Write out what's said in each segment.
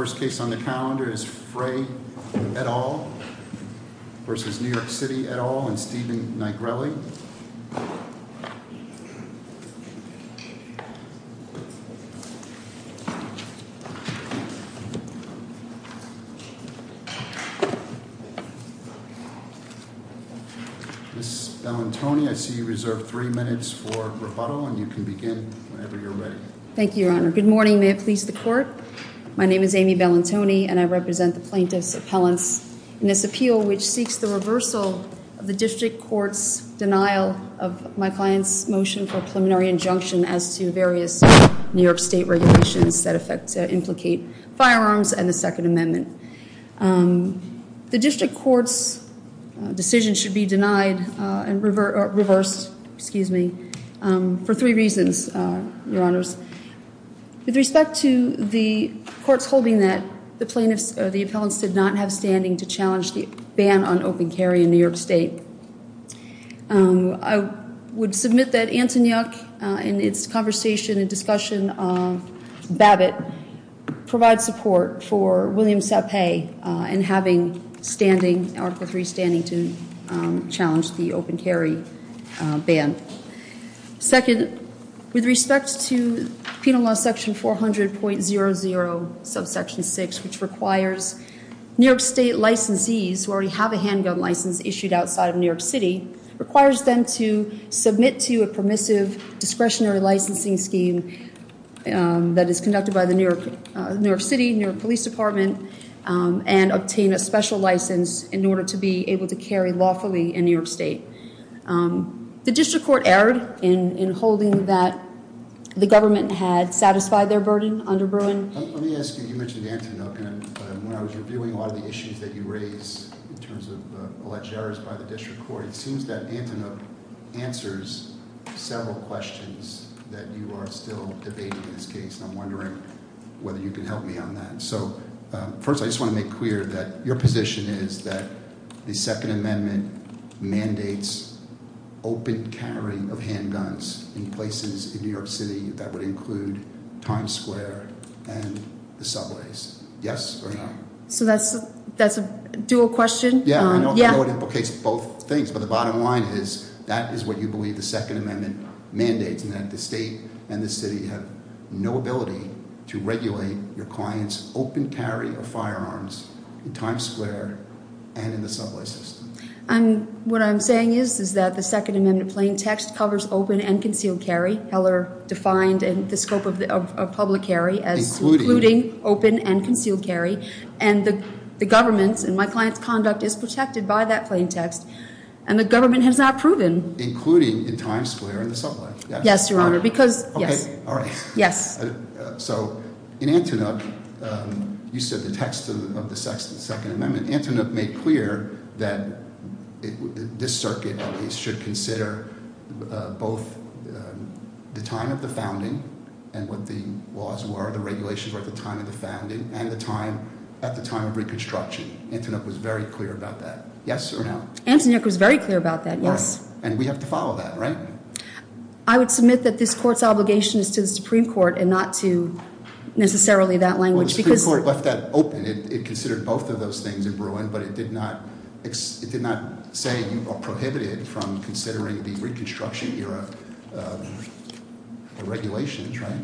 The first case on the calendar is Frey v. New York City et al. and Stephen Nigrelli. Ms. Bellantoni, I see you reserve three minutes for rebuttal, and you can begin whenever you're ready. Thank you, Your Honor. Good morning, and may it please the Court. My name is Amy Bellantoni, and I represent the plaintiffs' appellants in this appeal, which seeks the reversal of the District Court's denial of my client's motion for a preliminary injunction as to various New York State regulations that affect and implicate firearms and the Second Amendment. The District Court's decision should be denied and reversed for three reasons, Your Honors. With respect to the courts holding that the appellants did not have standing to challenge the ban on open carry in New York State, I would submit that Antonyuk, in its conversation and discussion of Babbitt, provides support for William Sapay in having standing, Article III standing, to challenge the open carry ban. Second, with respect to Penal Law, Section 400.00, Subsection 6, which requires New York State licensees who already have a handgun license issued outside of New York City, requires them to submit to a permissive discretionary licensing scheme that is conducted by the New York City, New York Police Department, and obtain a special license in order to be able to carry lawfully in New York State. The District Court erred in holding that the government had satisfied their burden under Bruin. Let me ask you, you mentioned Antonyuk, and when I was reviewing a lot of the issues that you raised in terms of alleged errors by the District Court, it seems that Antonyuk answers several questions that you are still debating in this case, and I'm wondering whether you can help me on that. So first, I just want to make clear that your position is that the Second Amendment mandates open carrying of handguns in places in New York City that would include Times Square and the subways. Yes or no? So that's a dual question. Yeah, I know it implicates both things, but the bottom line is that is what you believe the Second Amendment mandates, and that the state and the city have no ability to regulate your client's open carry of firearms in Times Square and in the subway system. What I'm saying is that the Second Amendment plain text covers open and concealed carry. Heller defined the scope of public carry as including open and concealed carry. And the government's and my client's conduct is protected by that plain text, and the government has not proven. Including in Times Square and the subway, yes. Yes, Your Honor, because, yes. Okay, all right. Yes. So in Antonyuk, you said the text of the Second Amendment, Antonyuk made clear that this circuit should consider both the time of the founding and what the laws were, the regulations were at the time of the founding, and the time, at the time of Reconstruction. Antonyuk was very clear about that. Yes or no? Antonyuk was very clear about that, yes. And we have to follow that, right? I would submit that this Court's obligation is to the Supreme Court and not to necessarily that language. Well, the Supreme Court left that open. It considered both of those things in Bruin, but it did not say you are prohibited from considering the Reconstruction-era regulations, right?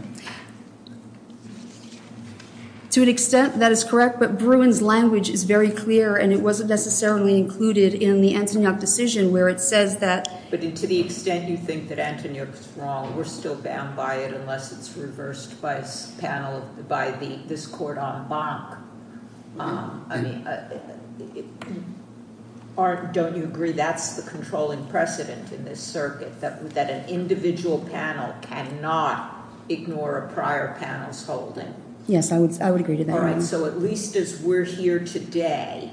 To an extent, that is correct. But Bruin's language is very clear, and it wasn't necessarily included in the Antonyuk decision where it says that. But to the extent you think that Antonyuk's wrong, we're still bound by it unless it's reversed by this panel, by this court en banc. I mean, don't you agree that's the controlling precedent in this circuit, that an individual panel cannot ignore a prior panel's holding? Yes, I would agree to that. All right, so at least as we're here today,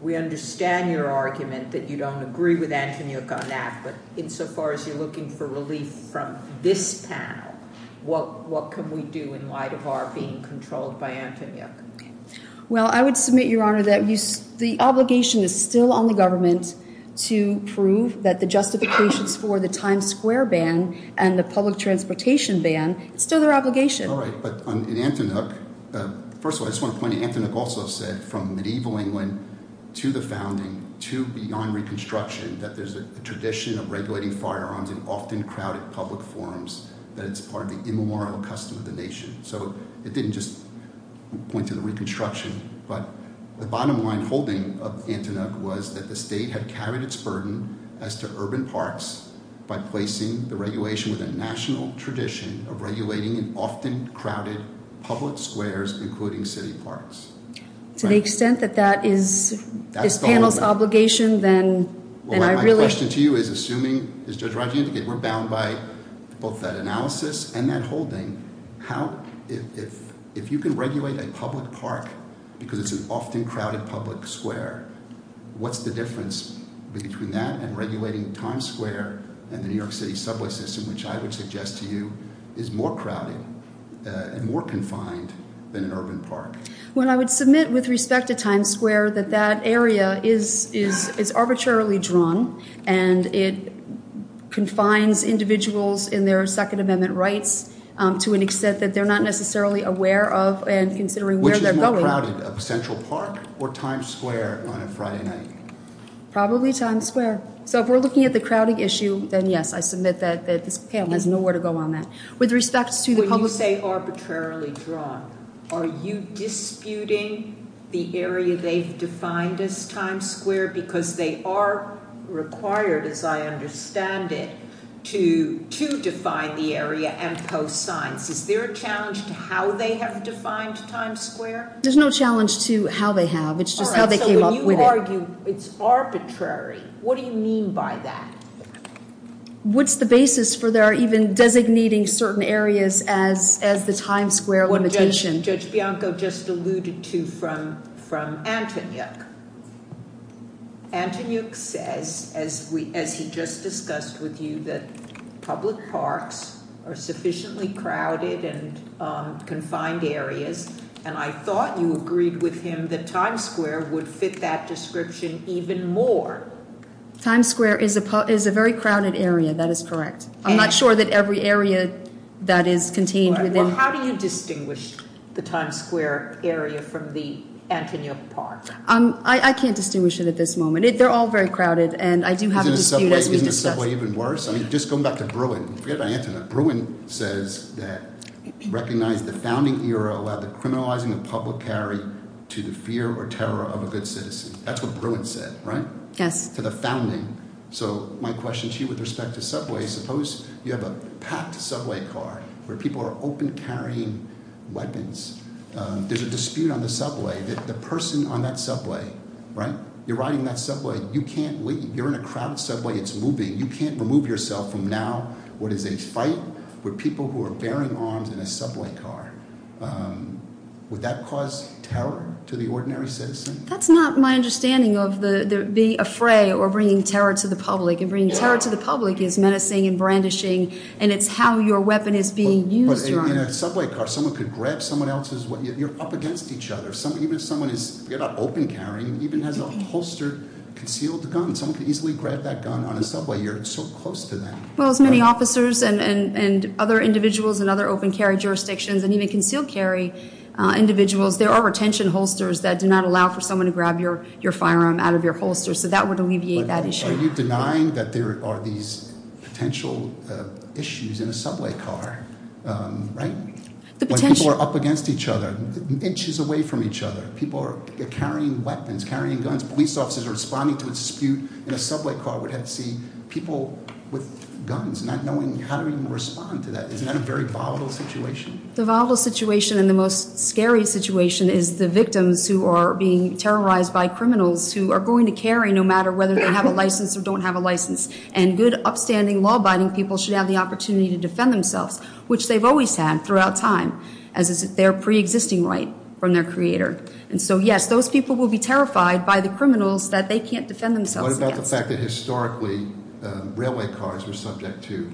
we understand your argument that you don't agree with Antonyuk on that. But insofar as you're looking for relief from this panel, what can we do in light of our being controlled by Antonyuk? Well, I would submit, Your Honor, that the obligation is still on the government to prove that the justifications for the Times Square ban and the public transportation ban, it's still their obligation. All right, but in Antonyuk – first of all, I just want to point out Antonyuk also said from medieval England to the founding to beyond Reconstruction that there's a tradition of regulating firearms in often crowded public forums, that it's part of the immemorial custom of the nation. So it didn't just point to the Reconstruction, but the bottom line holding of Antonyuk was that the state had carried its burden as to urban parks by placing the regulation with a national tradition of regulating in often crowded public squares, including city parks. To the extent that that is this panel's obligation, then I really – If you can regulate a public park because it's an often crowded public square, what's the difference between that and regulating Times Square and the New York City subway system, which I would suggest to you is more crowded and more confined than an urban park? Well, I would submit with respect to Times Square that that area is arbitrarily drawn and it confines individuals in their Second Amendment rights to an extent that they're not necessarily aware of and considering where they're going. Which is more crowded, Central Park or Times Square on a Friday night? Probably Times Square. So if we're looking at the crowding issue, then yes, I submit that this panel has nowhere to go on that. With respect to the public – Are you disputing the area they've defined as Times Square? Because they are required, as I understand it, to define the area and post signs. Is there a challenge to how they have defined Times Square? There's no challenge to how they have. It's just how they came up with it. All right, so when you argue it's arbitrary, what do you mean by that? What's the basis for their even designating certain areas as the Times Square limitation? Judge Bianco just alluded to from Antoniuk. Antoniuk says, as he just discussed with you, that public parks are sufficiently crowded and confined areas, and I thought you agreed with him that Times Square would fit that description even more. Times Square is a very crowded area. That is correct. I'm not sure that every area that is contained within – So how do you distinguish the Times Square area from the Antoniuk Park? I can't distinguish it at this moment. They're all very crowded, and I do have a dispute as we discuss – Isn't the subway even worse? I mean, just going back to Bruin – forget about Antoniuk – Bruin says that recognize the founding era allowed the criminalizing of public carry to the fear or terror of a good citizen. That's what Bruin said, right? Yes. So my question to you with respect to subway is suppose you have a packed subway car where people are open carrying weapons. There's a dispute on the subway that the person on that subway – you're riding that subway. You can't leave. You're in a crowded subway. It's moving. You can't remove yourself from now what is a fight where people who are bearing arms in a subway car. Would that cause terror to the ordinary citizen? That's not my understanding of the – being afraid or bringing terror to the public. And bringing terror to the public is menacing and brandishing, and it's how your weapon is being used. But in a subway car, someone could grab someone else's – you're up against each other. Even if someone is – forget about open carrying – even has a holstered, concealed gun, someone could easily grab that gun on a subway. You're so close to that. Well, as many officers and other individuals in other open carry jurisdictions and even concealed carry individuals, there are retention holsters that do not allow for someone to grab your firearm out of your holster. So that would alleviate that issue. Are you denying that there are these potential issues in a subway car, right? When people are up against each other, inches away from each other. People are carrying weapons, carrying guns. Police officers are responding to a dispute in a subway car. We'd have to see people with guns, not knowing how to even respond to that. Isn't that a very volatile situation? The volatile situation and the most scary situation is the victims who are being terrorized by criminals who are going to carry no matter whether they have a license or don't have a license. And good, upstanding, law-abiding people should have the opportunity to defend themselves, which they've always had throughout time, as is their preexisting right from their creator. And so, yes, those people will be terrified by the criminals that they can't defend themselves against. What about the fact that historically railway cars were subject to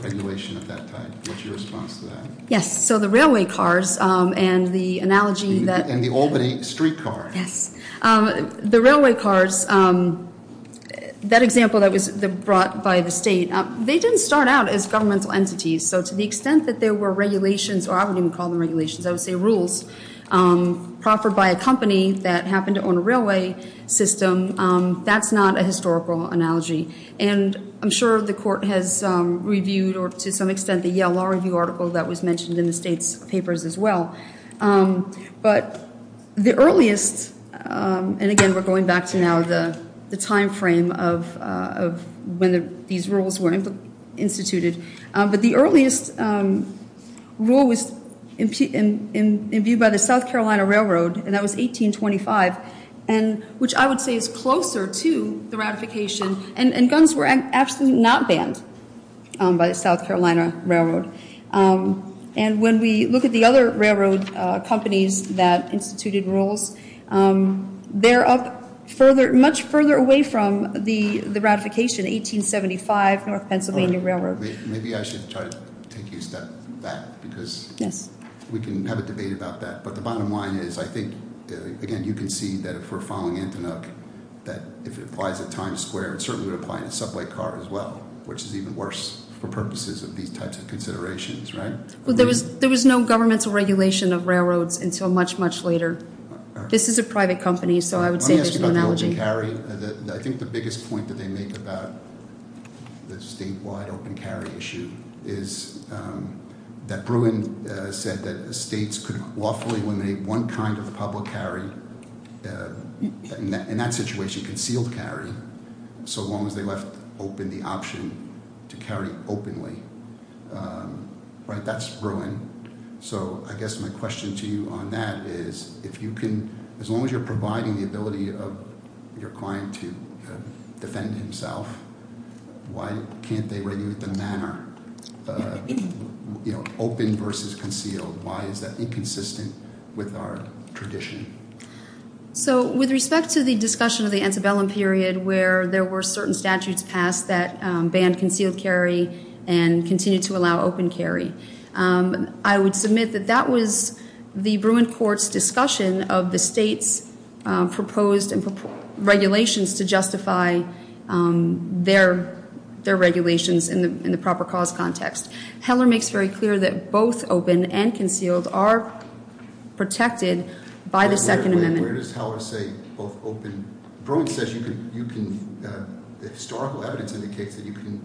regulation of that type? What's your response to that? Yes. So the railway cars and the analogy that... And the Albany streetcar. Yes. The railway cars, that example that was brought by the state, they didn't start out as governmental entities. So to the extent that there were regulations, or I wouldn't even call them regulations, I would say rules, proffered by a company that happened to own a railway system, that's not a historical analogy. And I'm sure the court has reviewed, or to some extent, the Yale Law Review article that was mentioned in the state's papers as well. But the earliest, and again, we're going back to now the timeframe of when these rules were instituted, but the earliest rule was imbued by the South Carolina Railroad, and that was 1825, which I would say is closer to the ratification. And guns were absolutely not banned by the South Carolina Railroad. And when we look at the other railroad companies that instituted rules, they're up further, much further away from the ratification, 1875, North Pennsylvania Railroad. Maybe I should try to take you a step back, because we can have a debate about that. But the bottom line is, I think, again, you can see that if we're following Antinuk, that if it applies at Times Square, it certainly would apply in a subway car as well, which is even worse for purposes of these types of considerations, right? Well, there was no governmental regulation of railroads until much, much later. This is a private company, so I would say there's an analogy. I think the biggest point that they make about the statewide open carry issue is that Bruin said that states could lawfully eliminate one kind of public carry, in that situation, concealed carry, so long as they left open the option to carry openly. That's Bruin. So I guess my question to you on that is, as long as you're providing the ability of your client to defend himself, why can't they regulate the manner, open versus concealed? Why is that inconsistent with our tradition? So, with respect to the discussion of the antebellum period, where there were certain statutes passed that banned concealed carry and continued to allow open carry, I would submit that that was the Bruin court's discussion of the state's proposed regulations to justify their regulations in the proper cause context. Heller makes very clear that both open and concealed are protected by the Second Amendment. Where does Heller say both open – Bruin says you can – the historical evidence indicates that you can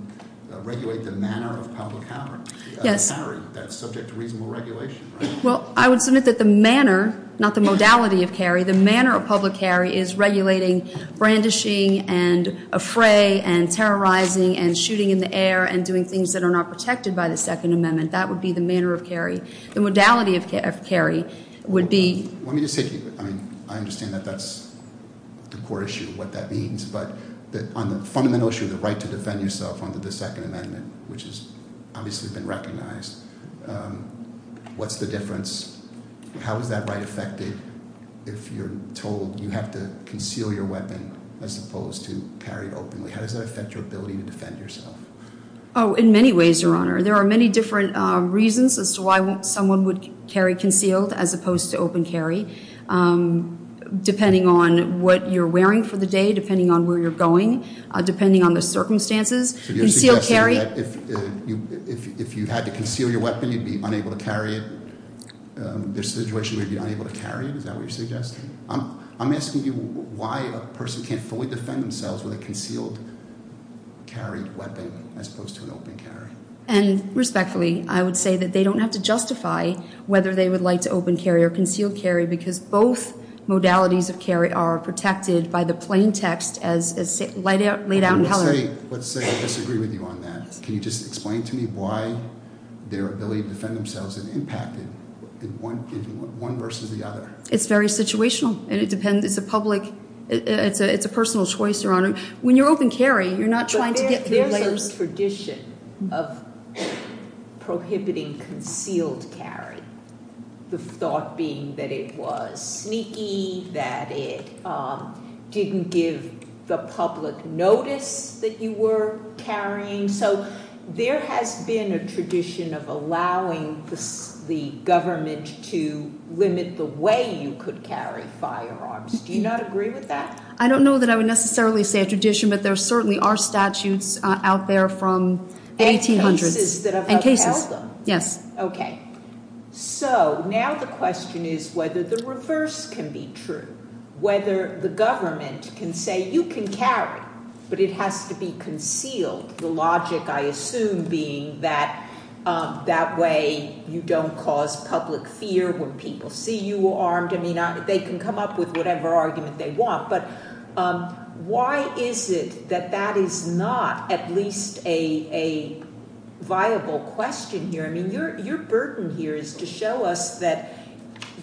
regulate the manner of public carry. Yes. That's subject to reasonable regulation, right? Well, I would submit that the manner, not the modality of carry, the manner of public carry is regulating brandishing and affray and terrorizing and shooting in the air and doing things that are not protected by the Second Amendment. That would be the manner of carry. The modality of carry would be – I understand that that's the core issue of what that means, but on the fundamental issue of the right to defend yourself under the Second Amendment, which has obviously been recognized, what's the difference? How is that right affected if you're told you have to conceal your weapon as opposed to carry it openly? How does that affect your ability to defend yourself? Oh, in many ways, Your Honor. There are many different reasons as to why someone would carry concealed as opposed to open carry, depending on what you're wearing for the day, depending on where you're going, depending on the circumstances. So you're suggesting that if you had to conceal your weapon, you'd be unable to carry it? There's a situation where you'd be unable to carry it? Is that what you're suggesting? I'm asking you why a person can't fully defend themselves with a concealed carry weapon as opposed to an open carry. And respectfully, I would say that they don't have to justify whether they would like to open carry or conceal carry because both modalities of carry are protected by the plain text as laid out in Heller. Let's say I disagree with you on that. Can you just explain to me why their ability to defend themselves is impacted one versus the other? It's very situational. It's a personal choice, Your Honor. When you're open carry, you're not trying to get— There's a tradition of prohibiting concealed carry, the thought being that it was sneaky, that it didn't give the public notice that you were carrying. So there has been a tradition of allowing the government to limit the way you could carry firearms. Do you not agree with that? I don't know that I would necessarily say a tradition, but there certainly are statutes out there from the 1800s and cases. Okay. So now the question is whether the reverse can be true, whether the government can say you can carry, but it has to be concealed. The logic, I assume, being that that way you don't cause public fear when people see you are armed. I mean, they can come up with whatever argument they want, but why is it that that is not at least a viable question here? I mean, your burden here is to show us that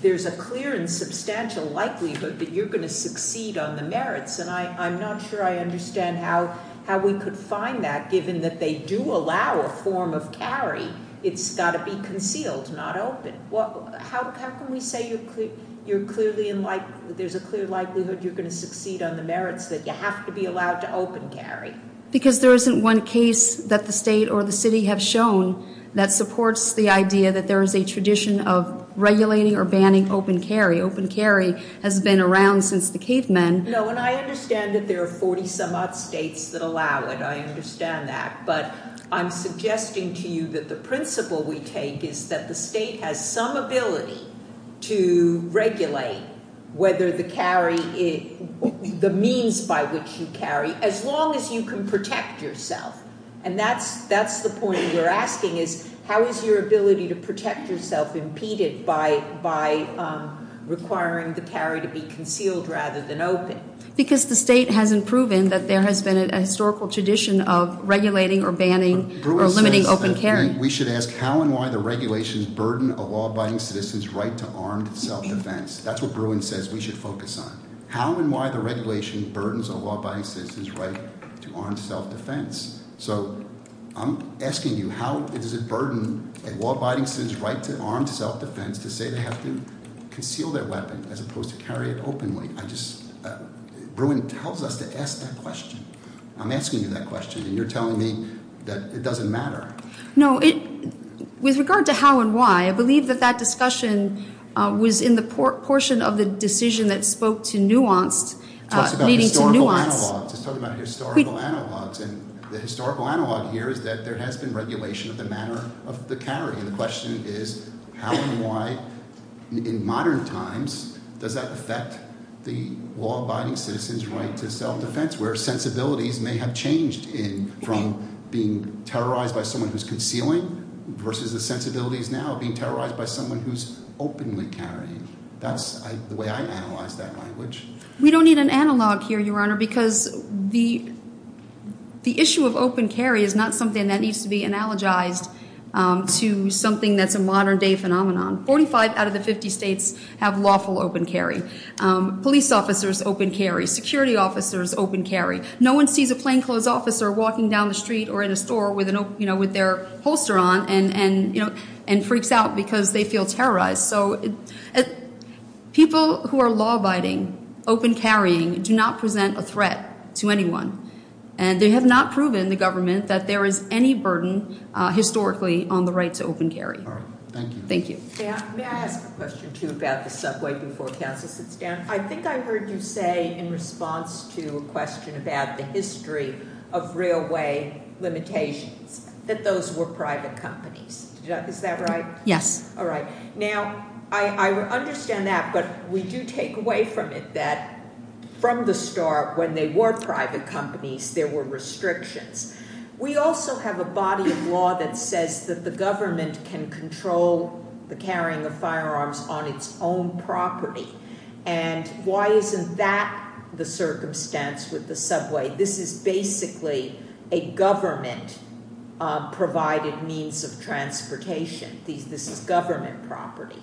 there's a clear and substantial likelihood that you're going to succeed on the merits, and I'm not sure I understand how we could find that given that they do allow a form of carry. It's got to be concealed, not open. How can we say there's a clear likelihood you're going to succeed on the merits that you have to be allowed to open carry? Because there isn't one case that the state or the city have shown that supports the idea that there is a tradition of regulating or banning open carry. Open carry has been around since the cavemen. No, and I understand that there are 40 some odd states that allow it. I understand that. But I'm suggesting to you that the principle we take is that the state has some ability to regulate whether the carry, the means by which you carry, as long as you can protect yourself. And that's the point we're asking, is how is your ability to protect yourself impeded by requiring the carry to be concealed rather than open? Because the state hasn't proven that there has been a historical tradition of regulating or banning or limiting open carry. We should ask how and why the regulations burden a law-abiding citizen's right to armed self-defense. That's what Bruin says we should focus on. How and why the regulation burdens a law-abiding citizen's right to armed self-defense. So I'm asking you, how does it burden a law-abiding citizen's right to armed self-defense to say they have to conceal their weapon as opposed to carry it openly? Bruin tells us to ask that question. I'm asking you that question, and you're telling me that it doesn't matter. No, with regard to how and why, I believe that that discussion was in the portion of the decision that spoke to nuance, leading to nuance. It talks about historical analogs. It's talking about historical analogs. And the historical analog here is that there has been regulation of the manner of the carry. And the question is how and why in modern times does that affect the law-abiding citizen's right to self-defense, where sensibilities may have changed from being terrorized by someone who's concealing versus the sensibilities now being terrorized by someone who's openly carrying. That's the way I analyze that language. We don't need an analog here, Your Honor, because the issue of open carry is not something that needs to be analogized to something that's a modern-day phenomenon. Forty-five out of the 50 states have lawful open carry. Police officers open carry. Security officers open carry. No one sees a plainclothes officer walking down the street or in a store with their holster on and freaks out because they feel terrorized. People who are law-abiding open carrying do not present a threat to anyone. And they have not proven, the government, that there is any burden historically on the right to open carry. Thank you. May I ask a question, too, about the subway before counsel sits down? I think I heard you say in response to a question about the history of railway limitations that those were private companies. Is that right? Yes. All right. Now, I understand that, but we do take away from it that from the start, when they were private companies, there were restrictions. We also have a body of law that says that the government can control the carrying of firearms on its own property. And why isn't that the circumstance with the subway? This is basically a government-provided means of transportation. This is government property.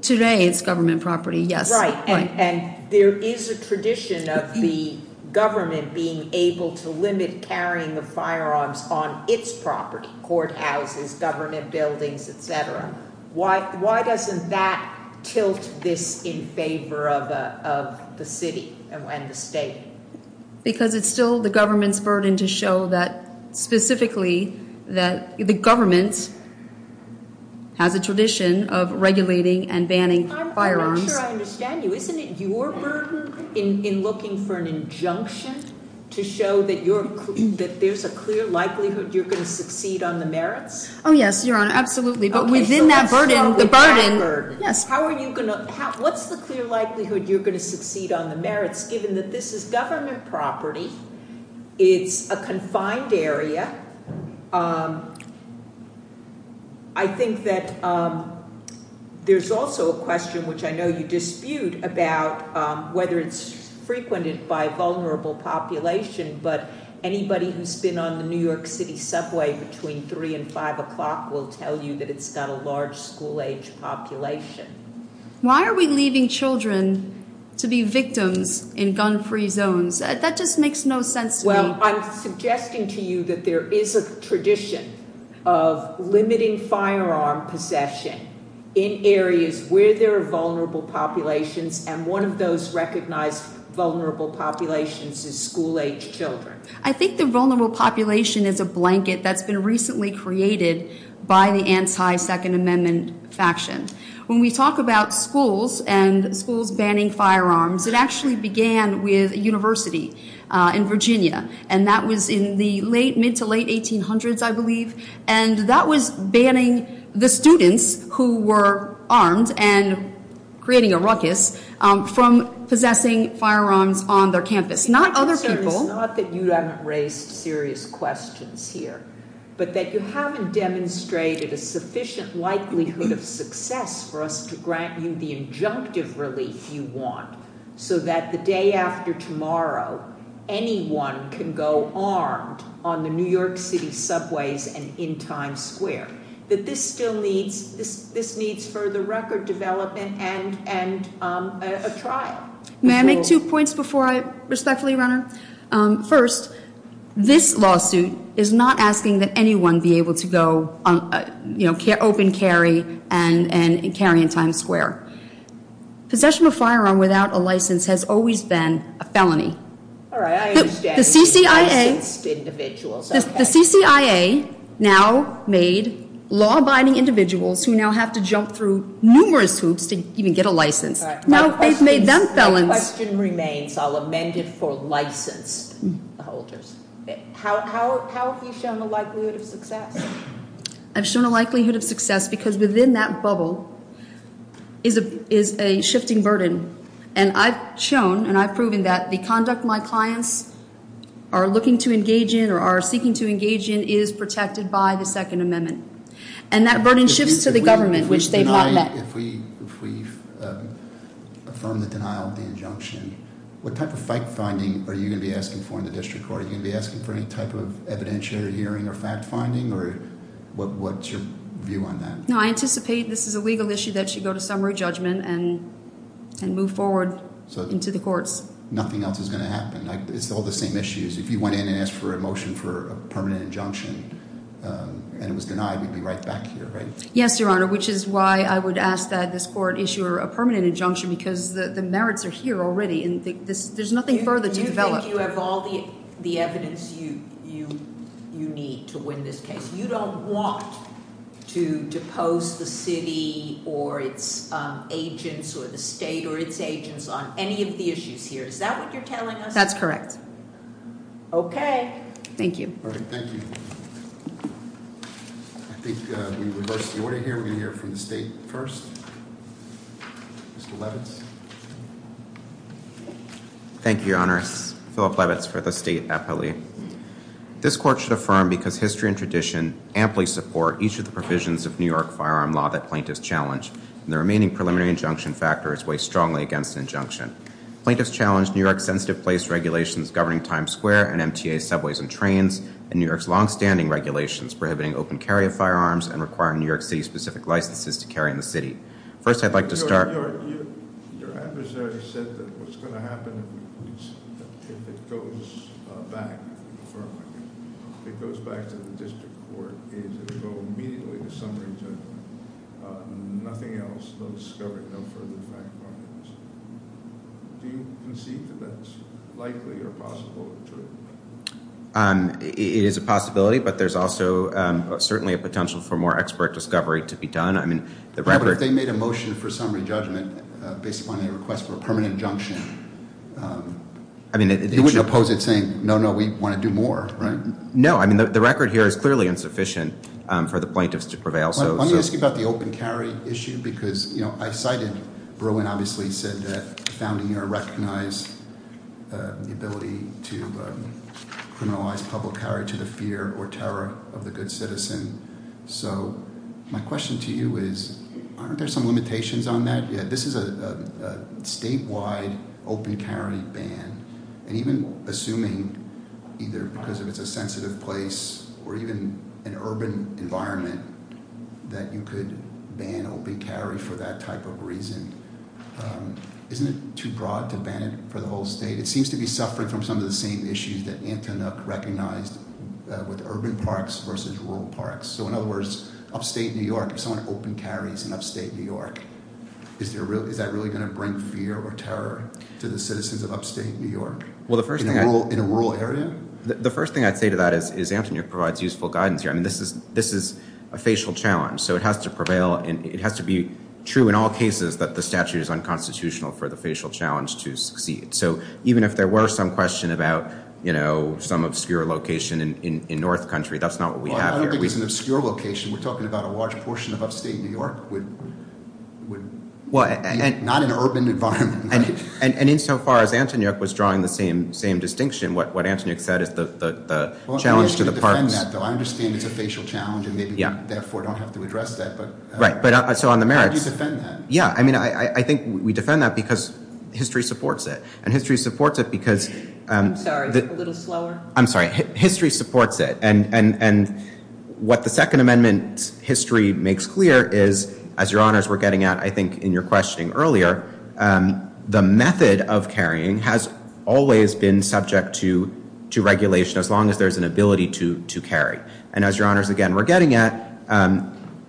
Today, it's government property, yes. Right. And there is a tradition of the government being able to limit carrying of firearms on its property, courthouses, government buildings, et cetera. Why doesn't that tilt this in favor of the city and the state? Because it's still the government's burden to show that specifically that the government has a tradition of regulating and banning firearms. I'm not sure I understand you. Isn't it your burden in looking for an injunction to show that there's a clear likelihood you're going to succeed on the merits? Oh, yes, Your Honor. Absolutely. But within that burden, the burden. Yes. What's the clear likelihood you're going to succeed on the merits given that this is government property, it's a confined area? I think that there's also a question, which I know you dispute, about whether it's frequented by a vulnerable population. But anybody who's been on the New York City subway between 3 and 5 o'clock will tell you that it's got a large school-age population. Why are we leaving children to be victims in gun-free zones? That just makes no sense to me. I'm suggesting to you that there is a tradition of limiting firearm possession in areas where there are vulnerable populations. And one of those recognized vulnerable populations is school-age children. I think the vulnerable population is a blanket that's been recently created by the anti-Second Amendment faction. When we talk about schools and schools banning firearms, it actually began with a university in Virginia. And that was in the mid-to-late 1800s, I believe. And that was banning the students who were armed and creating a ruckus from possessing firearms on their campus, not other people. It's not that you haven't raised serious questions here, but that you haven't demonstrated a sufficient likelihood of success for us to grant you the injunctive relief you want so that the day after tomorrow, anyone can go armed on the New York City subways and in Times Square. That this still needs further record development and a trial. May I make two points before I respectfully run out? First, this lawsuit is not asking that anyone be able to go open carry and carry in Times Square. Possession of a firearm without a license has always been a felony. All right, I understand. The CCIA- Licensed individuals, okay. The CCIA now made law-abiding individuals who now have to jump through numerous hoops to even get a license. Now they've made them felons. My question remains, I'll amend it for licensed holders. How have you shown the likelihood of success? I've shown a likelihood of success because within that bubble is a shifting burden. And I've shown and I've proven that the conduct my clients are looking to engage in or are seeking to engage in is protected by the Second Amendment. And that burden shifts to the government, which they've not let. If we affirm the denial of the injunction, what type of fact-finding are you going to be asking for in the district court? Are you going to be asking for any type of evidentiary hearing or fact-finding or what's your view on that? No, I anticipate this is a legal issue that should go to summary judgment and move forward into the courts. Nothing else is going to happen. It's all the same issues. If you went in and asked for a motion for a permanent injunction and it was denied, we'd be right back here, right? Yes, Your Honor, which is why I would ask that this court issue a permanent injunction because the merits are here already. There's nothing further to develop. You think you have all the evidence you need to win this case. You don't want to depose the city or its agents or the state or its agents on any of the issues here. Is that what you're telling us? That's correct. Okay. Thank you. All right, thank you. I think we reversed the order here. We're going to hear from the state first. Mr. Levitz. Thank you, Your Honors. Philip Levitz for the state appellee. This court should affirm because history and tradition amply support each of the provisions of New York firearm law that plaintiffs challenge, and the remaining preliminary injunction factors weigh strongly against an injunction. Plaintiffs challenge New York's sensitive place regulations governing Times Square and MTA subways and trains, and New York's longstanding regulations prohibiting open carry of firearms and requiring New York City-specific licenses to carry in the city. First, I'd like to start- Your adversary said that what's going to happen if it goes back, if it goes back to the district court, is it will immediately go to summary judgment. Nothing else, no discovery, no further fact-finding. Do you concede that that's likely or possible? It is a possibility, but there's also certainly a potential for more expert discovery to be done. I mean, the record- But if they made a motion for summary judgment based upon a request for a permanent injunction, you wouldn't oppose it saying, no, no, we want to do more, right? No, I mean, the record here is clearly insufficient for the plaintiffs to prevail, so- Let me ask you about the open carry issue because, you know, I cited-Bruin obviously said that the founding year recognized the ability to criminalize public carry to the fear or terror of the good citizen. So my question to you is, aren't there some limitations on that? Yeah, this is a statewide open carry ban, and even assuming either because it's a sensitive place or even an urban environment that you could ban open carry for that type of reason, isn't it too broad to ban it for the whole state? It seems to be suffering from some of the same issues that Antonuk recognized with urban parks versus rural parks. So in other words, upstate New York, if someone open carries in upstate New York, is that really going to bring fear or terror to the citizens of upstate New York in a rural area? The first thing I'd say to that is Antonuk provides useful guidance here. I mean, this is a facial challenge, so it has to prevail. It has to be true in all cases that the statute is unconstitutional for the facial challenge to succeed. So even if there were some question about, you know, some obscure location in North Country, that's not what we have here. I don't think it's an obscure location. We're talking about a large portion of upstate New York, not an urban environment. And insofar as Antonuk was drawing the same distinction, what Antonuk said is the challenge to the parks. I understand it's a facial challenge, and maybe therefore don't have to address that, but how do you defend that? Yeah, I mean, I think we defend that because history supports it, and history supports it because— I'm sorry, a little slower. I'm sorry, history supports it. And what the Second Amendment history makes clear is, as Your Honors were getting at, I think, in your questioning earlier, the method of carrying has always been subject to regulation as long as there's an ability to carry. And as Your Honors, again, were getting at,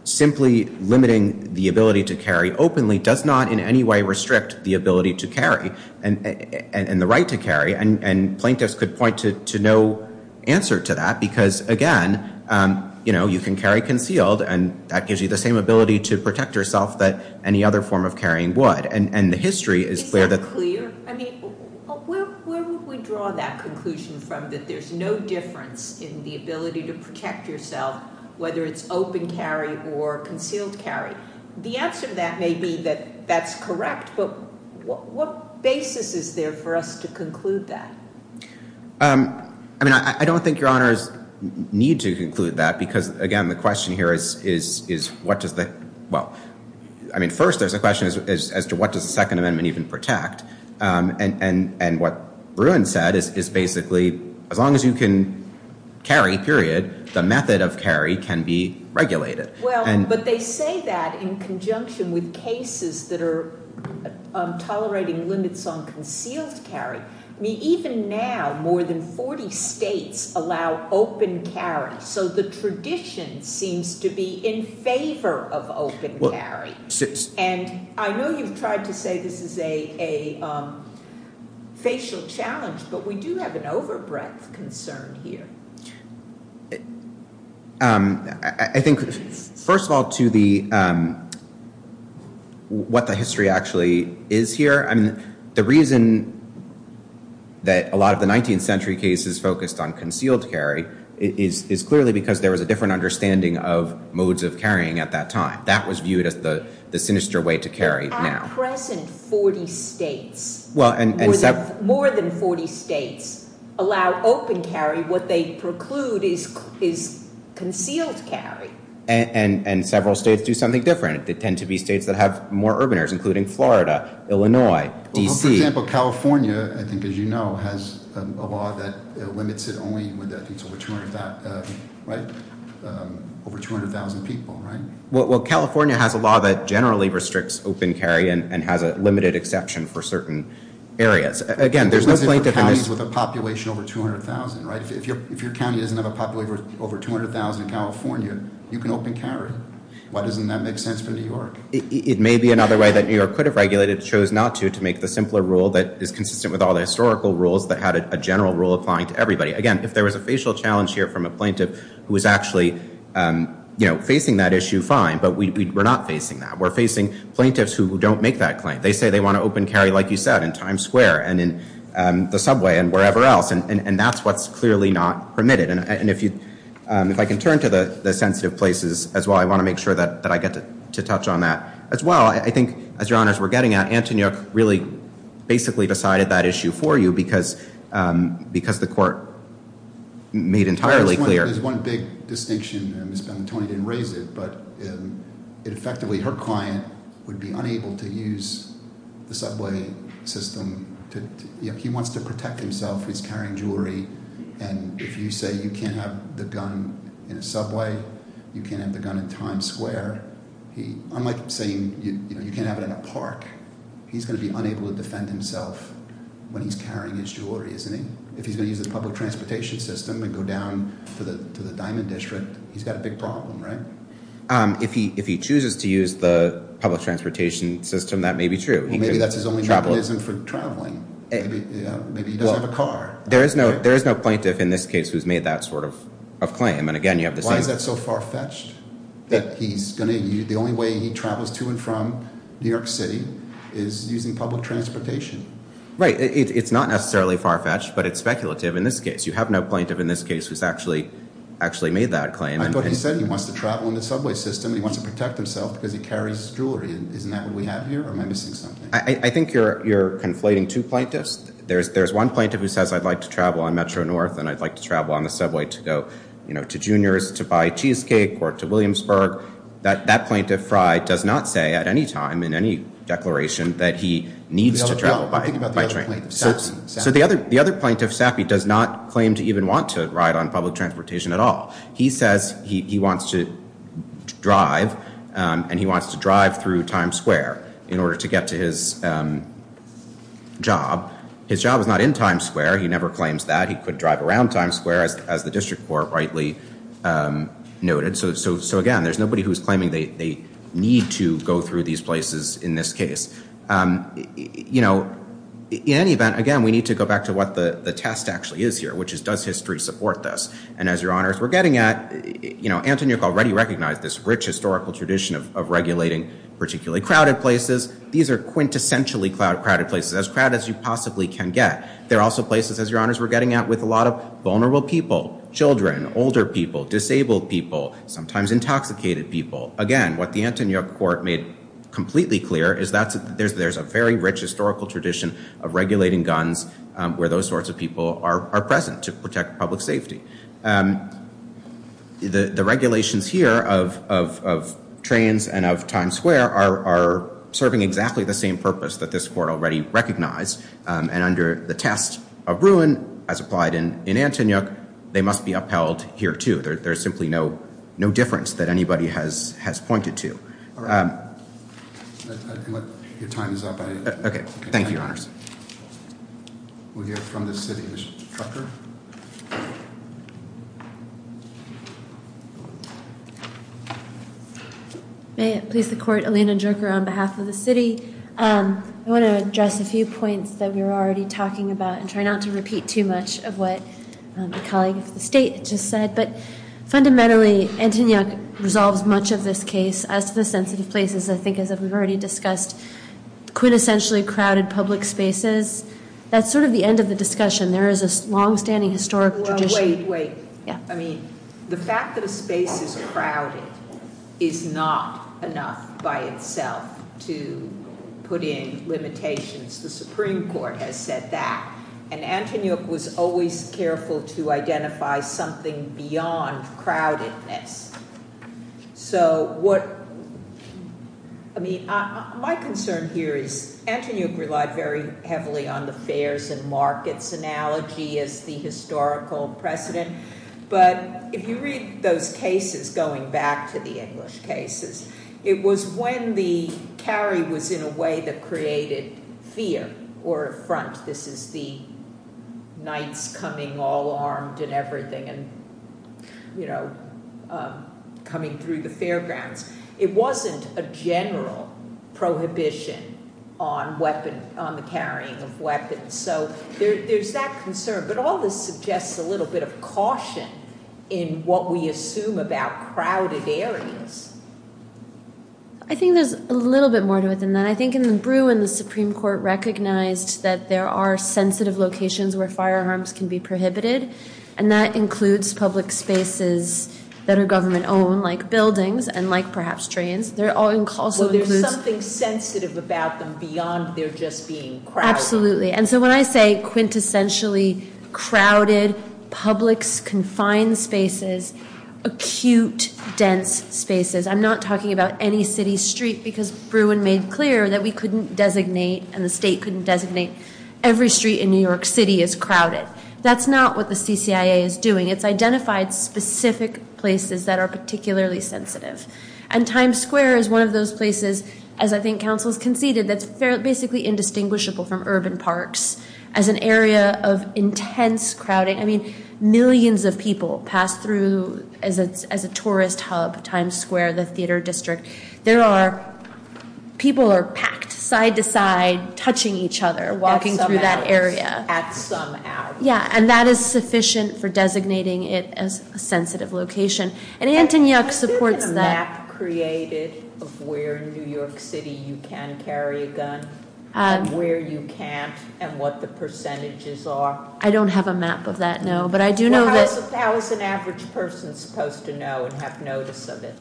simply limiting the ability to carry openly does not in any way restrict the ability to carry and the right to carry. And plaintiffs could point to no answer to that because, again, you can carry concealed, and that gives you the same ability to protect yourself that any other form of carrying would. And the history is clear that— Is that clear? I mean, where would we draw that conclusion from, that there's no difference in the ability to protect yourself, whether it's open carry or concealed carry? The answer to that may be that that's correct, but what basis is there for us to conclude that? I mean, I don't think Your Honors need to conclude that because, again, the question here is what does the— Well, I mean, first there's a question as to what does the Second Amendment even protect. And what Bruin said is basically, as long as you can carry, period, the method of carry can be regulated. Well, but they say that in conjunction with cases that are tolerating limits on concealed carry. I mean, even now, more than 40 states allow open carry. So the tradition seems to be in favor of open carry. And I know you've tried to say this is a facial challenge, but we do have an overbreadth concern here. I think, first of all, to what the history actually is here, I mean, the reason that a lot of the 19th century cases focused on concealed carry is clearly because there was a different understanding of modes of carrying at that time. That was viewed as the sinister way to carry now. More than 40 states allow open carry. What they preclude is concealed carry. And several states do something different. They tend to be states that have more urban areas, including Florida, Illinois, D.C. Well, for example, California, I think, as you know, has a law that limits it only with, I think, over 200,000 people, right? Well, California has a law that generally restricts open carry and has a limited exception for certain areas. Again, there's no plaintiff in this— You're looking for counties with a population over 200,000, right? If your county doesn't have a population over 200,000 in California, you can open carry. Why doesn't that make sense for New York? It may be another way that New York could have regulated. It chose not to, to make the simpler rule that is consistent with all the historical rules that had a general rule applying to everybody. Again, if there was a facial challenge here from a plaintiff who was actually, you know, facing that issue, fine. But we're not facing that. We're facing plaintiffs who don't make that claim. They say they want to open carry, like you said, in Times Square and in the subway and wherever else. And that's what's clearly not permitted. And if I can turn to the sensitive places as well, I want to make sure that I get to touch on that as well. Well, I think, as Your Honors, we're getting at, Antoniuk really basically decided that issue for you because the court made entirely clear— There's one big distinction. Ms. Benettoni didn't raise it, but effectively her client would be unable to use the subway system. He wants to protect himself. He's carrying jewelry. And if you say you can't have the gun in a subway, you can't have the gun in Times Square, unlike saying you can't have it in a park, he's going to be unable to defend himself when he's carrying his jewelry, isn't he? If he's going to use the public transportation system and go down to the Diamond District, he's got a big problem, right? If he chooses to use the public transportation system, that may be true. Maybe that's his only mechanism for traveling. Maybe he doesn't have a car. There is no plaintiff in this case who's made that sort of claim. Why is that so far-fetched? The only way he travels to and from New York City is using public transportation. Right. It's not necessarily far-fetched, but it's speculative in this case. You have no plaintiff in this case who's actually made that claim. I thought he said he wants to travel in the subway system and he wants to protect himself because he carries jewelry. Isn't that what we have here, or am I missing something? I think you're conflating two plaintiffs. There's one plaintiff who says, I'd like to travel on Metro North and I'd like to travel on the subway to go to Junior's to buy cheesecake or to Williamsburg. That plaintiff, Fry, does not say at any time in any declaration that he needs to travel by train. So the other plaintiff, Sappy, does not claim to even want to ride on public transportation at all. He says he wants to drive and he wants to drive through Times Square in order to get to his job. His job is not in Times Square. He never claims that. He could drive around Times Square, as the district court rightly noted. So, again, there's nobody who's claiming they need to go through these places in this case. You know, in any event, again, we need to go back to what the test actually is here, which is, does history support this? And as Your Honors, we're getting at, you know, Antonyuk already recognized this rich historical tradition of regulating particularly crowded places. These are quintessentially crowded places, as crowded as you possibly can get. They're also places, as Your Honors, we're getting at with a lot of vulnerable people, children, older people, disabled people, sometimes intoxicated people. Again, what the Antonyuk court made completely clear is that there's a very rich historical tradition of regulating guns where those sorts of people are present to protect public safety. The regulations here of trains and of Times Square are serving exactly the same purpose that this court already recognized. And under the test of ruin, as applied in Antonyuk, they must be upheld here, too. There's simply no difference that anybody has pointed to. Your time is up. Okay. Thank you, Your Honors. We'll hear from the city instructor. May it please the court, Alina Jerker on behalf of the city. I want to address a few points that we were already talking about and try not to repeat too much of what the colleague of the state just said. But fundamentally, Antonyuk resolves much of this case as to the sensitive places, I think, as we've already discussed, quintessentially crowded public spaces. That's sort of the end of the discussion. There is a longstanding historical tradition. Wait, wait. I mean, the fact that a space is crowded is not enough by itself to put in limitations. The Supreme Court has said that. And Antonyuk was always careful to identify something beyond crowdedness. So what, I mean, my concern here is Antonyuk relied very heavily on the fares and markets analogy as the historical precedent. But if you read those cases, going back to the English cases, it was when the carry was in a way that created fear or affront. This is the knights coming all armed and everything and coming through the fairgrounds. It wasn't a general prohibition on the carrying of weapons. So there's that concern. But all this suggests a little bit of caution in what we assume about crowded areas. I think there's a little bit more to it than that. And I think in the Bruin, the Supreme Court recognized that there are sensitive locations where firearms can be prohibited. And that includes public spaces that are government-owned like buildings and like perhaps trains. They're all enclosed. Well, there's something sensitive about them beyond they're just being crowded. Absolutely. And so when I say quintessentially crowded public confined spaces, acute dense spaces, I'm not talking about any city street because Bruin made clear that we couldn't designate and the state couldn't designate every street in New York City as crowded. That's not what the CCIA is doing. It's identified specific places that are particularly sensitive. And Times Square is one of those places, as I think counsel has conceded, that's basically indistinguishable from urban parks as an area of intense crowding. I mean, millions of people pass through as a tourist hub, Times Square, the theater district. There are, people are packed side to side, touching each other, walking through that area. At some hours. Yeah, and that is sufficient for designating it as a sensitive location. And Antonyuk supports that. Is there a map created of where in New York City you can carry a gun and where you can't and what the percentages are? I don't have a map of that, no. But I do know that- How is an average person supposed to know and have notice of it?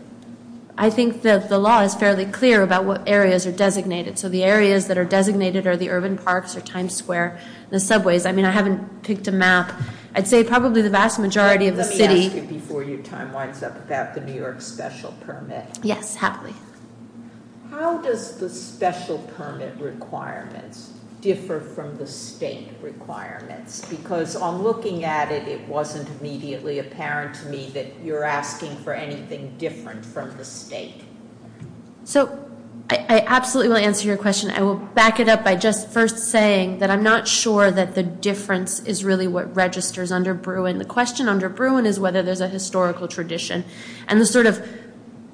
I think that the law is fairly clear about what areas are designated. So the areas that are designated are the urban parks or Times Square, the subways. I mean, I haven't picked a map. I'd say probably the vast majority of the city- Let me ask you before your time winds up about the New York special permit. Yes, happily. How does the special permit requirements differ from the state requirements? Because on looking at it, it wasn't immediately apparent to me that you're asking for anything different from the state. So, I absolutely will answer your question. I will back it up by just first saying that I'm not sure that the difference is really what registers under Bruin. The question under Bruin is whether there's a historical tradition. And the sort of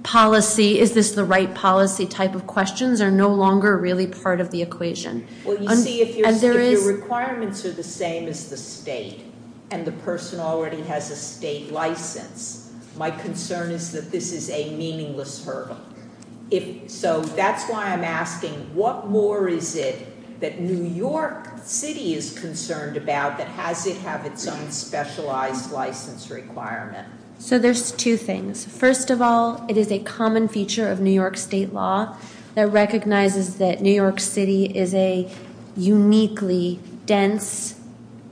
policy, is this the right policy type of questions are no longer really part of the equation. Well, you see, if your requirements are the same as the state and the person already has a state license, my concern is that this is a meaningless hurdle. So that's why I'm asking, what more is it that New York City is concerned about that has it have its own specialized license requirement? So there's two things. First of all, it is a common feature of New York state law that recognizes that New York City is a uniquely dense,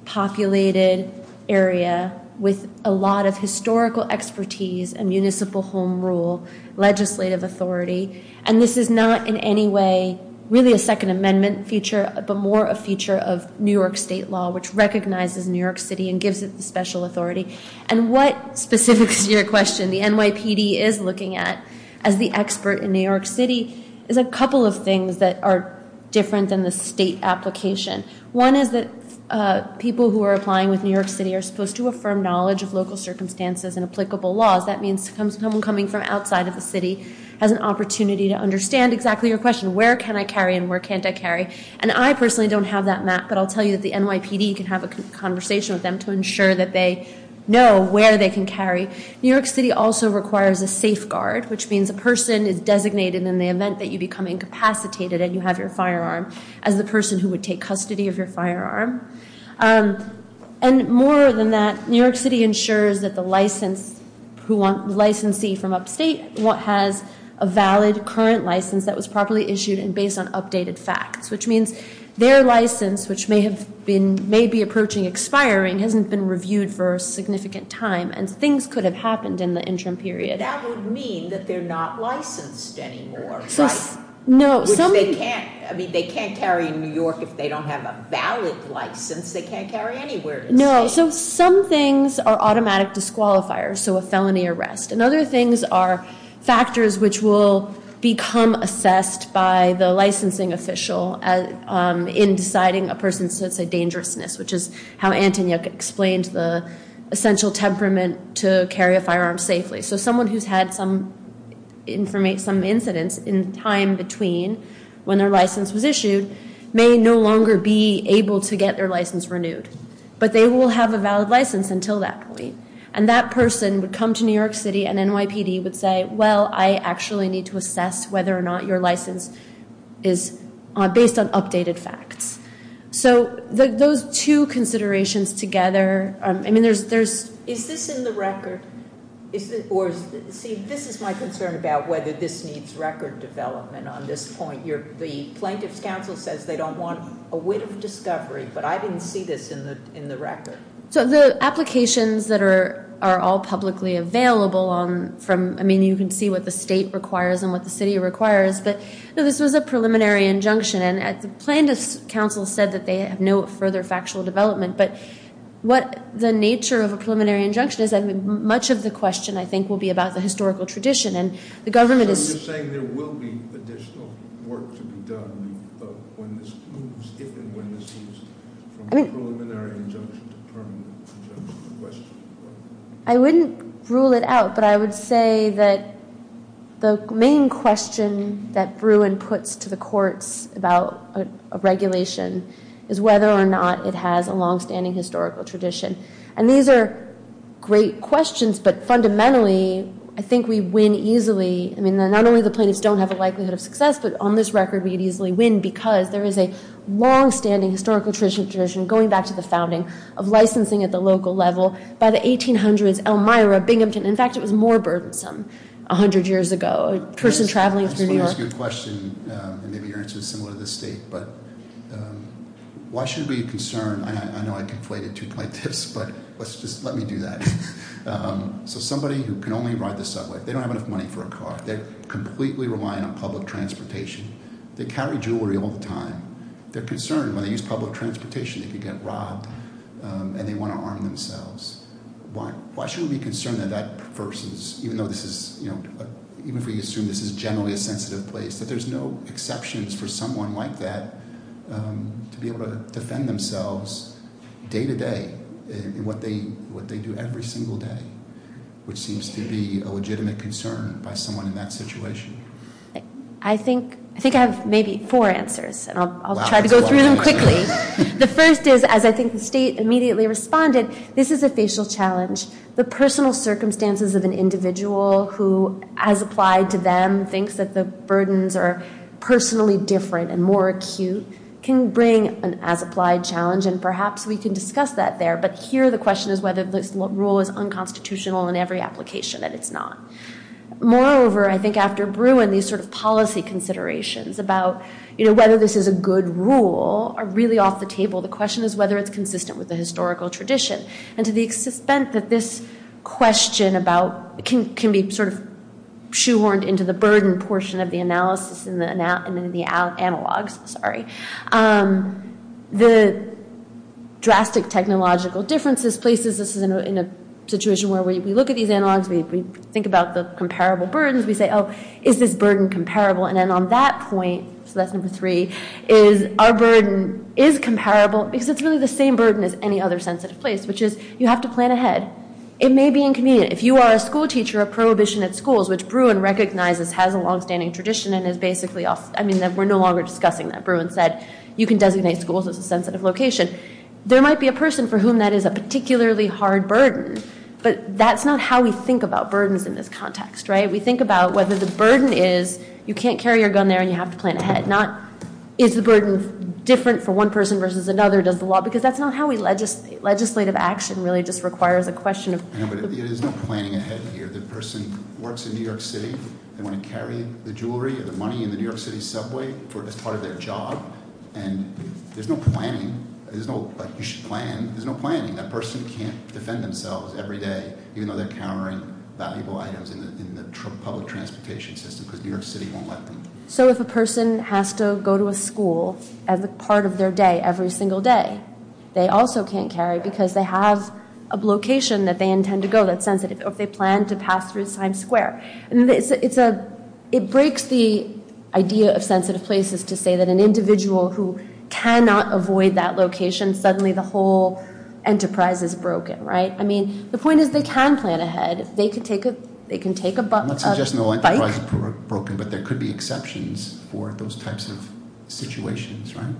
populated area with a lot of historical expertise and municipal home rule, legislative authority. And this is not in any way really a Second Amendment feature, but more a feature of New York state law, which recognizes New York City and gives it the special authority. And what specifics to your question the NYPD is looking at, as the expert in New York City, is a couple of things that are different than the state application. One is that people who are applying with New York City are supposed to affirm knowledge of local circumstances and applicable laws. That means someone coming from outside of the city has an opportunity to understand exactly your question. Where can I carry and where can't I carry? And I personally don't have that map, but I'll tell you that the NYPD can have a conversation with them to ensure that they know where they can carry. New York City also requires a safeguard, which means a person is designated in the event that you become incapacitated and you have your firearm, as the person who would take custody of your firearm. And more than that, New York City ensures that the licensee from upstate has a valid, current license that was properly issued and based on updated facts. Which means their license, which may be approaching expiring, hasn't been reviewed for a significant time, and things could have happened in the interim period. But that would mean that they're not licensed anymore, right? No. Which they can't carry in New York if they don't have a valid license. They can't carry anywhere in the state. No, so some things are automatic disqualifiers, so a felony arrest. And other things are factors which will become assessed by the licensing official in deciding a person's, let's say, dangerousness, which is how Antonia explained the essential temperament to carry a firearm safely. So someone who's had some incidents in time between when their license was issued may no longer be able to get their license renewed. But they will have a valid license until that point. And that person would come to New York City and NYPD would say, well, I actually need to assess whether or not your license is based on updated facts. So those two considerations together, I mean, there's- Is this in the record? Or, see, this is my concern about whether this needs record development on this point. The plaintiff's counsel says they don't want a wit of discovery, but I didn't see this in the record. So the applications that are all publicly available from- I mean, you can see what the state requires and what the city requires. But, no, this was a preliminary injunction. And the plaintiff's counsel said that they have no further factual development. But what the nature of a preliminary injunction is, much of the question, I think, will be about the historical tradition. And the government is- So you're saying there will be additional work to be done when this moves, if and when this moves, from a preliminary injunction to permanent injunction? I wouldn't rule it out, but I would say that the main question that Bruin puts to the courts about a regulation is whether or not it has a longstanding historical tradition. And these are great questions, but fundamentally, I think we win easily. I mean, not only the plaintiffs don't have a likelihood of success, but on this record, we'd easily win because there is a longstanding historical tradition going back to the founding of licensing at the local level. By the 1800s, Elmira, Binghamton- In fact, it was more burdensome 100 years ago. A person traveling through New York- I just want to ask you a question, and maybe your answer is similar to the state. But why should we be concerned- I know I conflated two plaintiffs, but let's just- Let me do that. So somebody who can only ride the subway, they don't have enough money for a car. They're completely relying on public transportation. They carry jewelry all the time. They're concerned when they use public transportation, they could get robbed, and they want to arm themselves. Why should we be concerned that that versus- Even though this is- Even if we assume this is generally a sensitive place, that there's no exceptions for someone like that to be able to defend themselves day to day in what they do every single day, which seems to be a legitimate concern by someone in that situation? I think I have maybe four answers, and I'll try to go through them quickly. The first is, as I think the state immediately responded, this is a facial challenge. The personal circumstances of an individual who, as applied to them, thinks that the burdens are personally different and more acute can bring an as-applied challenge. And perhaps we can discuss that there. But here the question is whether this rule is unconstitutional in every application, and it's not. Moreover, I think after Bruin, these sort of policy considerations about whether this is a good rule are really off the table. The question is whether it's consistent with the historical tradition. And to the extent that this question can be sort of shoehorned into the burden portion of the analysis and the analogs, the drastic technological differences places us in a situation where we look at these analogs, we think about the comparable burdens, we say, oh, is this burden comparable? And then on that point, so that's number three, is our burden is comparable because it's really the same burden as any other sensitive place, which is you have to plan ahead. It may be inconvenient. If you are a schoolteacher, a prohibition at schools, which Bruin recognizes has a longstanding tradition and is basically, I mean, we're no longer discussing that. Bruin said you can designate schools as a sensitive location. There might be a person for whom that is a particularly hard burden, but that's not how we think about burdens in this context, right? We think about whether the burden is, you can't carry your gun there and you have to plan ahead. Not, is the burden different for one person versus another, does the law, because that's not how legislative action really just requires a question of- But it is not planning ahead here. The person works in New York City. They want to carry the jewelry or the money in the New York City subway as part of their job. And there's no planning, there's no, you should plan, there's no planning. That person can't defend themselves every day, even though they're carrying valuable items in the public transportation system, because New York City won't let them. So if a person has to go to a school as a part of their day every single day, they also can't carry because they have a location that they intend to go that's sensitive, or if they plan to pass through Times Square. It breaks the idea of sensitive places to say that an individual who cannot avoid that location, suddenly the whole enterprise is broken, right? I mean, the point is they can plan ahead. They can take a bike- I'm not suggesting the whole enterprise is broken, but there could be exceptions for those types of situations, right?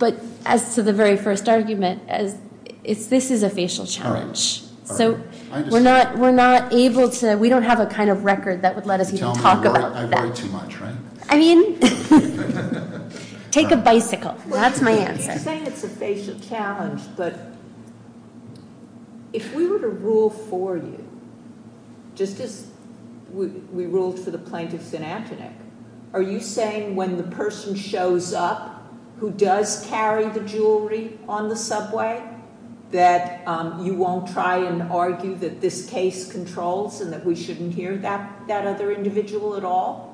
But as to the very first argument, this is a facial challenge. So we're not able to, we don't have a kind of record that would let us even talk about that. I worry too much, right? I mean, take a bicycle. That's my answer. You're saying it's a facial challenge, but if we were to rule for you, just as we ruled for the plaintiffs in Antoinette, are you saying when the person shows up who does carry the jewelry on the subway, that you won't try and argue that this case controls and that we shouldn't hear that other individual at all?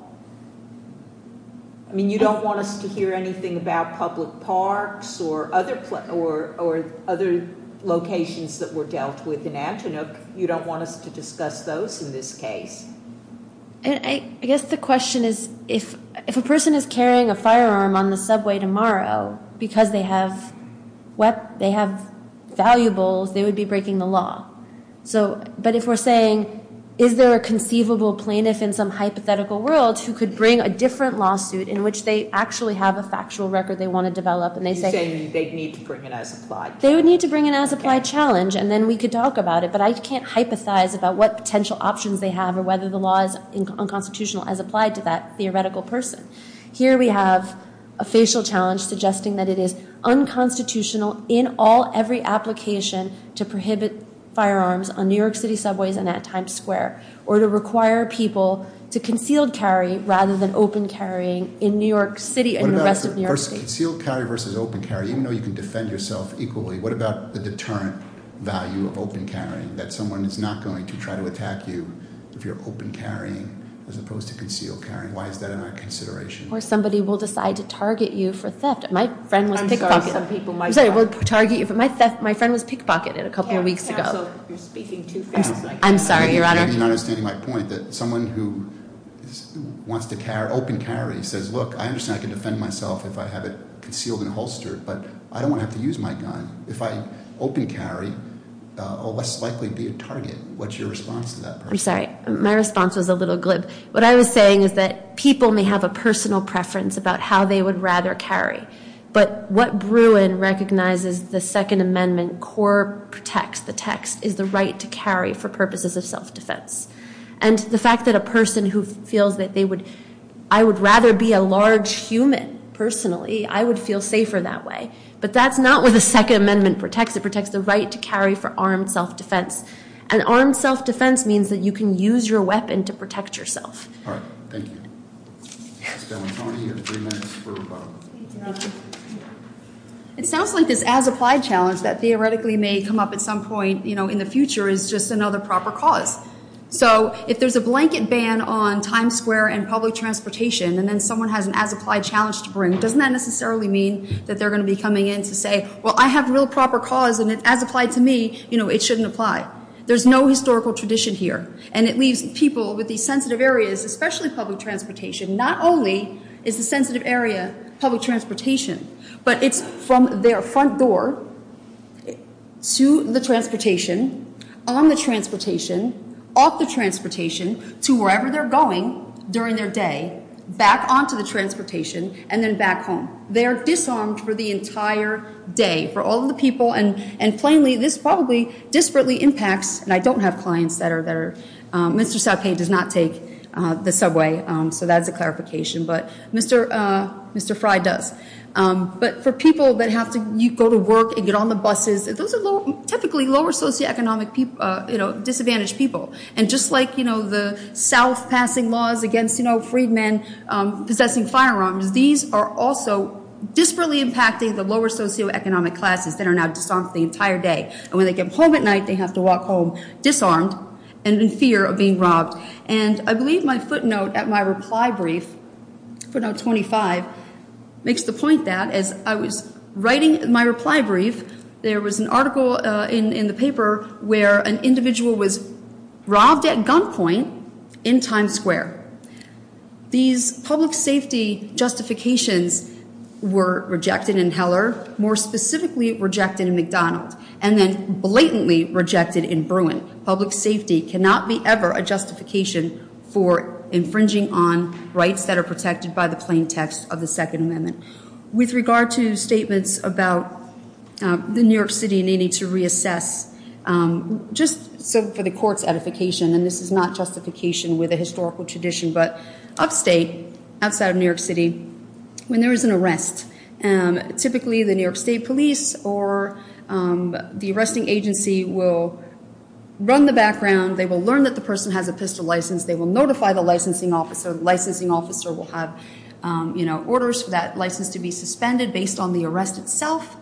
I mean, you don't want us to hear anything about public parks or other locations that were dealt with in Antoinette. You don't want us to discuss those in this case. I guess the question is, if a person is carrying a firearm on the subway tomorrow because they have valuables, they would be breaking the law. But if we're saying, is there a conceivable plaintiff in some hypothetical world who could bring a different lawsuit in which they actually have a factual record they want to develop and they say- You're saying they'd need to bring an as-applied challenge. And then we could talk about it. But I can't hypothesize about what potential options they have or whether the law is unconstitutional as applied to that theoretical person. Here we have a facial challenge suggesting that it is unconstitutional in all every application to prohibit firearms on New York City subways and at Times Square. Or to require people to concealed carry rather than open carrying in New York City and the rest of New York City. Concealed carry versus open carry, even though you can defend yourself equally, what about the deterrent value of open carrying? That someone is not going to try to attack you if you're open carrying as opposed to concealed carrying. Why is that in our consideration? Or somebody will decide to target you for theft. My friend was pickpocketed. I'm sorry, some people might- I'm sorry, will target you. My friend was pickpocketed a couple of weeks ago. Counsel, you're speaking too fast. I'm sorry, Your Honor. You're not understanding my point that someone who wants to open carry says, look, I understand I can defend myself if I have it concealed and holstered. But I don't want to have to use my gun. If I open carry, I'll less likely be a target. What's your response to that person? I'm sorry, my response was a little glib. What I was saying is that people may have a personal preference about how they would rather carry. But what Bruin recognizes the Second Amendment core protects, the text, is the right to carry for purposes of self-defense. And the fact that a person who feels that they would, I would rather be a large human, personally, I would feel safer that way. But that's not what the Second Amendment protects. It protects the right to carry for armed self-defense. And armed self-defense means that you can use your weapon to protect yourself. All right. Thank you. Ms. Galantoni, you have three minutes for rebuttal. Thank you, Your Honor. It sounds like this as-applied challenge that theoretically may come up at some point in the future is just another proper cause. So if there's a blanket ban on Times Square and public transportation, and then someone has an as-applied challenge to bring, doesn't that necessarily mean that they're going to be coming in to say, well, I have real proper cause, and as applied to me, it shouldn't apply. There's no historical tradition here. And it leaves people with these sensitive areas, especially public transportation. Not only is the sensitive area public transportation, but it's from their front door to the transportation, on the transportation, off the transportation, to wherever they're going during their day, back onto the transportation, and then back home. They are disarmed for the entire day, for all of the people. And plainly, this probably disparately impacts, and I don't have clients that are there. Mr. Sape does not take the subway, so that's a clarification. But Mr. Fry does. But for people that have to go to work and get on the buses, those are typically lower socioeconomic disadvantaged people. And just like, you know, the South passing laws against, you know, freedmen possessing firearms, these are also disparately impacting the lower socioeconomic classes that are now disarmed for the entire day. And when they get home at night, they have to walk home disarmed and in fear of being robbed. And I believe my footnote at my reply brief, footnote 25, makes the point that as I was writing my reply brief, there was an article in the paper where an individual was robbed at gunpoint in Times Square. These public safety justifications were rejected in Heller, more specifically rejected in McDonald, and then blatantly rejected in Bruin. Public safety cannot be ever a justification for infringing on rights that are protected by the plain text of the Second Amendment. With regard to statements about the New York City needing to reassess, just so for the court's edification, and this is not justification with a historical tradition, but upstate, outside of New York City, when there is an arrest, typically the New York State police or the arresting agency will run the background. They will learn that the person has a pistol license. They will notify the licensing officer. The licensing officer will have, you know, orders for that license to be suspended based on the arrest itself.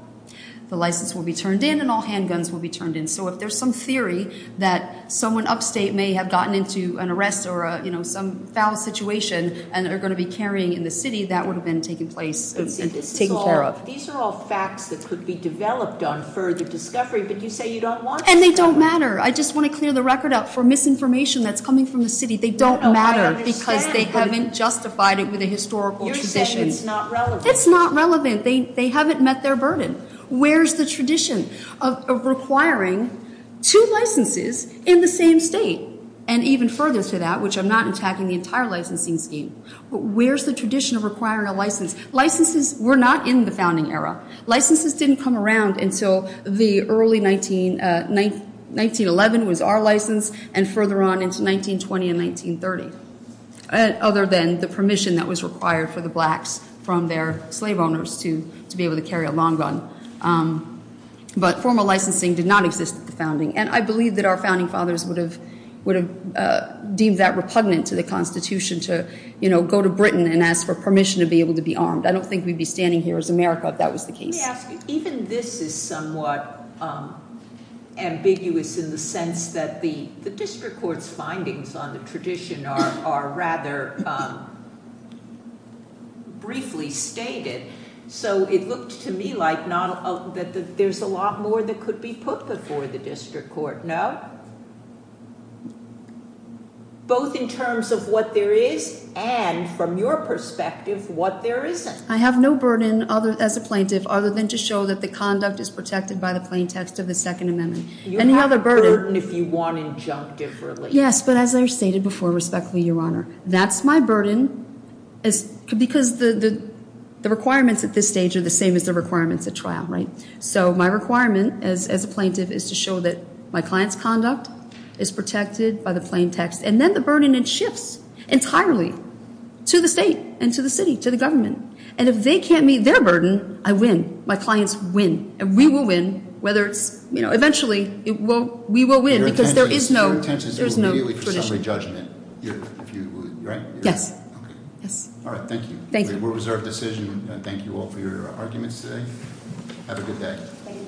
The license will be turned in and all handguns will be turned in. So if there's some theory that someone upstate may have gotten into an arrest or, you know, some foul situation and are going to be carrying in the city, that would have been taken place and taken care of. These are all facts that could be developed on further discovery, but you say you don't want to. And they don't matter. I just want to clear the record up for misinformation that's coming from the city. They don't matter because they haven't justified it with a historical tradition. You're saying it's not relevant. It's not relevant. They haven't met their burden. Where's the tradition of requiring two licenses in the same state? And even further to that, which I'm not attacking the entire licensing scheme, where's the tradition of requiring a license? Licenses were not in the founding era. Licenses didn't come around until the early 1911 was our license and further on into 1920 and 1930, other than the permission that was required for the blacks from their slave owners to be able to carry a long gun. But formal licensing did not exist at the founding. And I believe that our founding fathers would have deemed that repugnant to the Constitution to, you know, go to Britain and ask for permission to be able to be armed. I don't think we'd be standing here as America if that was the case. Let me ask you, even this is somewhat ambiguous in the sense that the district court's findings on the tradition are rather briefly stated. So it looked to me like there's a lot more that could be put before the district court. No? Both in terms of what there is and, from your perspective, what there isn't. I have no burden as a plaintiff other than to show that the conduct is protected by the plain text of the Second Amendment. You have a burden if you want injunctive relief. Yes, but as I stated before, respectfully, Your Honor, that's my burden because the requirements at this stage are the same as the requirements at trial, right? So my requirement as a plaintiff is to show that my client's conduct is protected by the plain text. And then the burden then shifts entirely to the state and to the city, to the government. And if they can't meet their burden, I win. My clients win. And we will win, whether it's, you know, eventually we will win because there is no tradition. Your intention is to go immediately for summary judgment, right? Yes. All right, thank you. Thank you. We're reserved decision. Thank you all for your arguments today. Have a good day.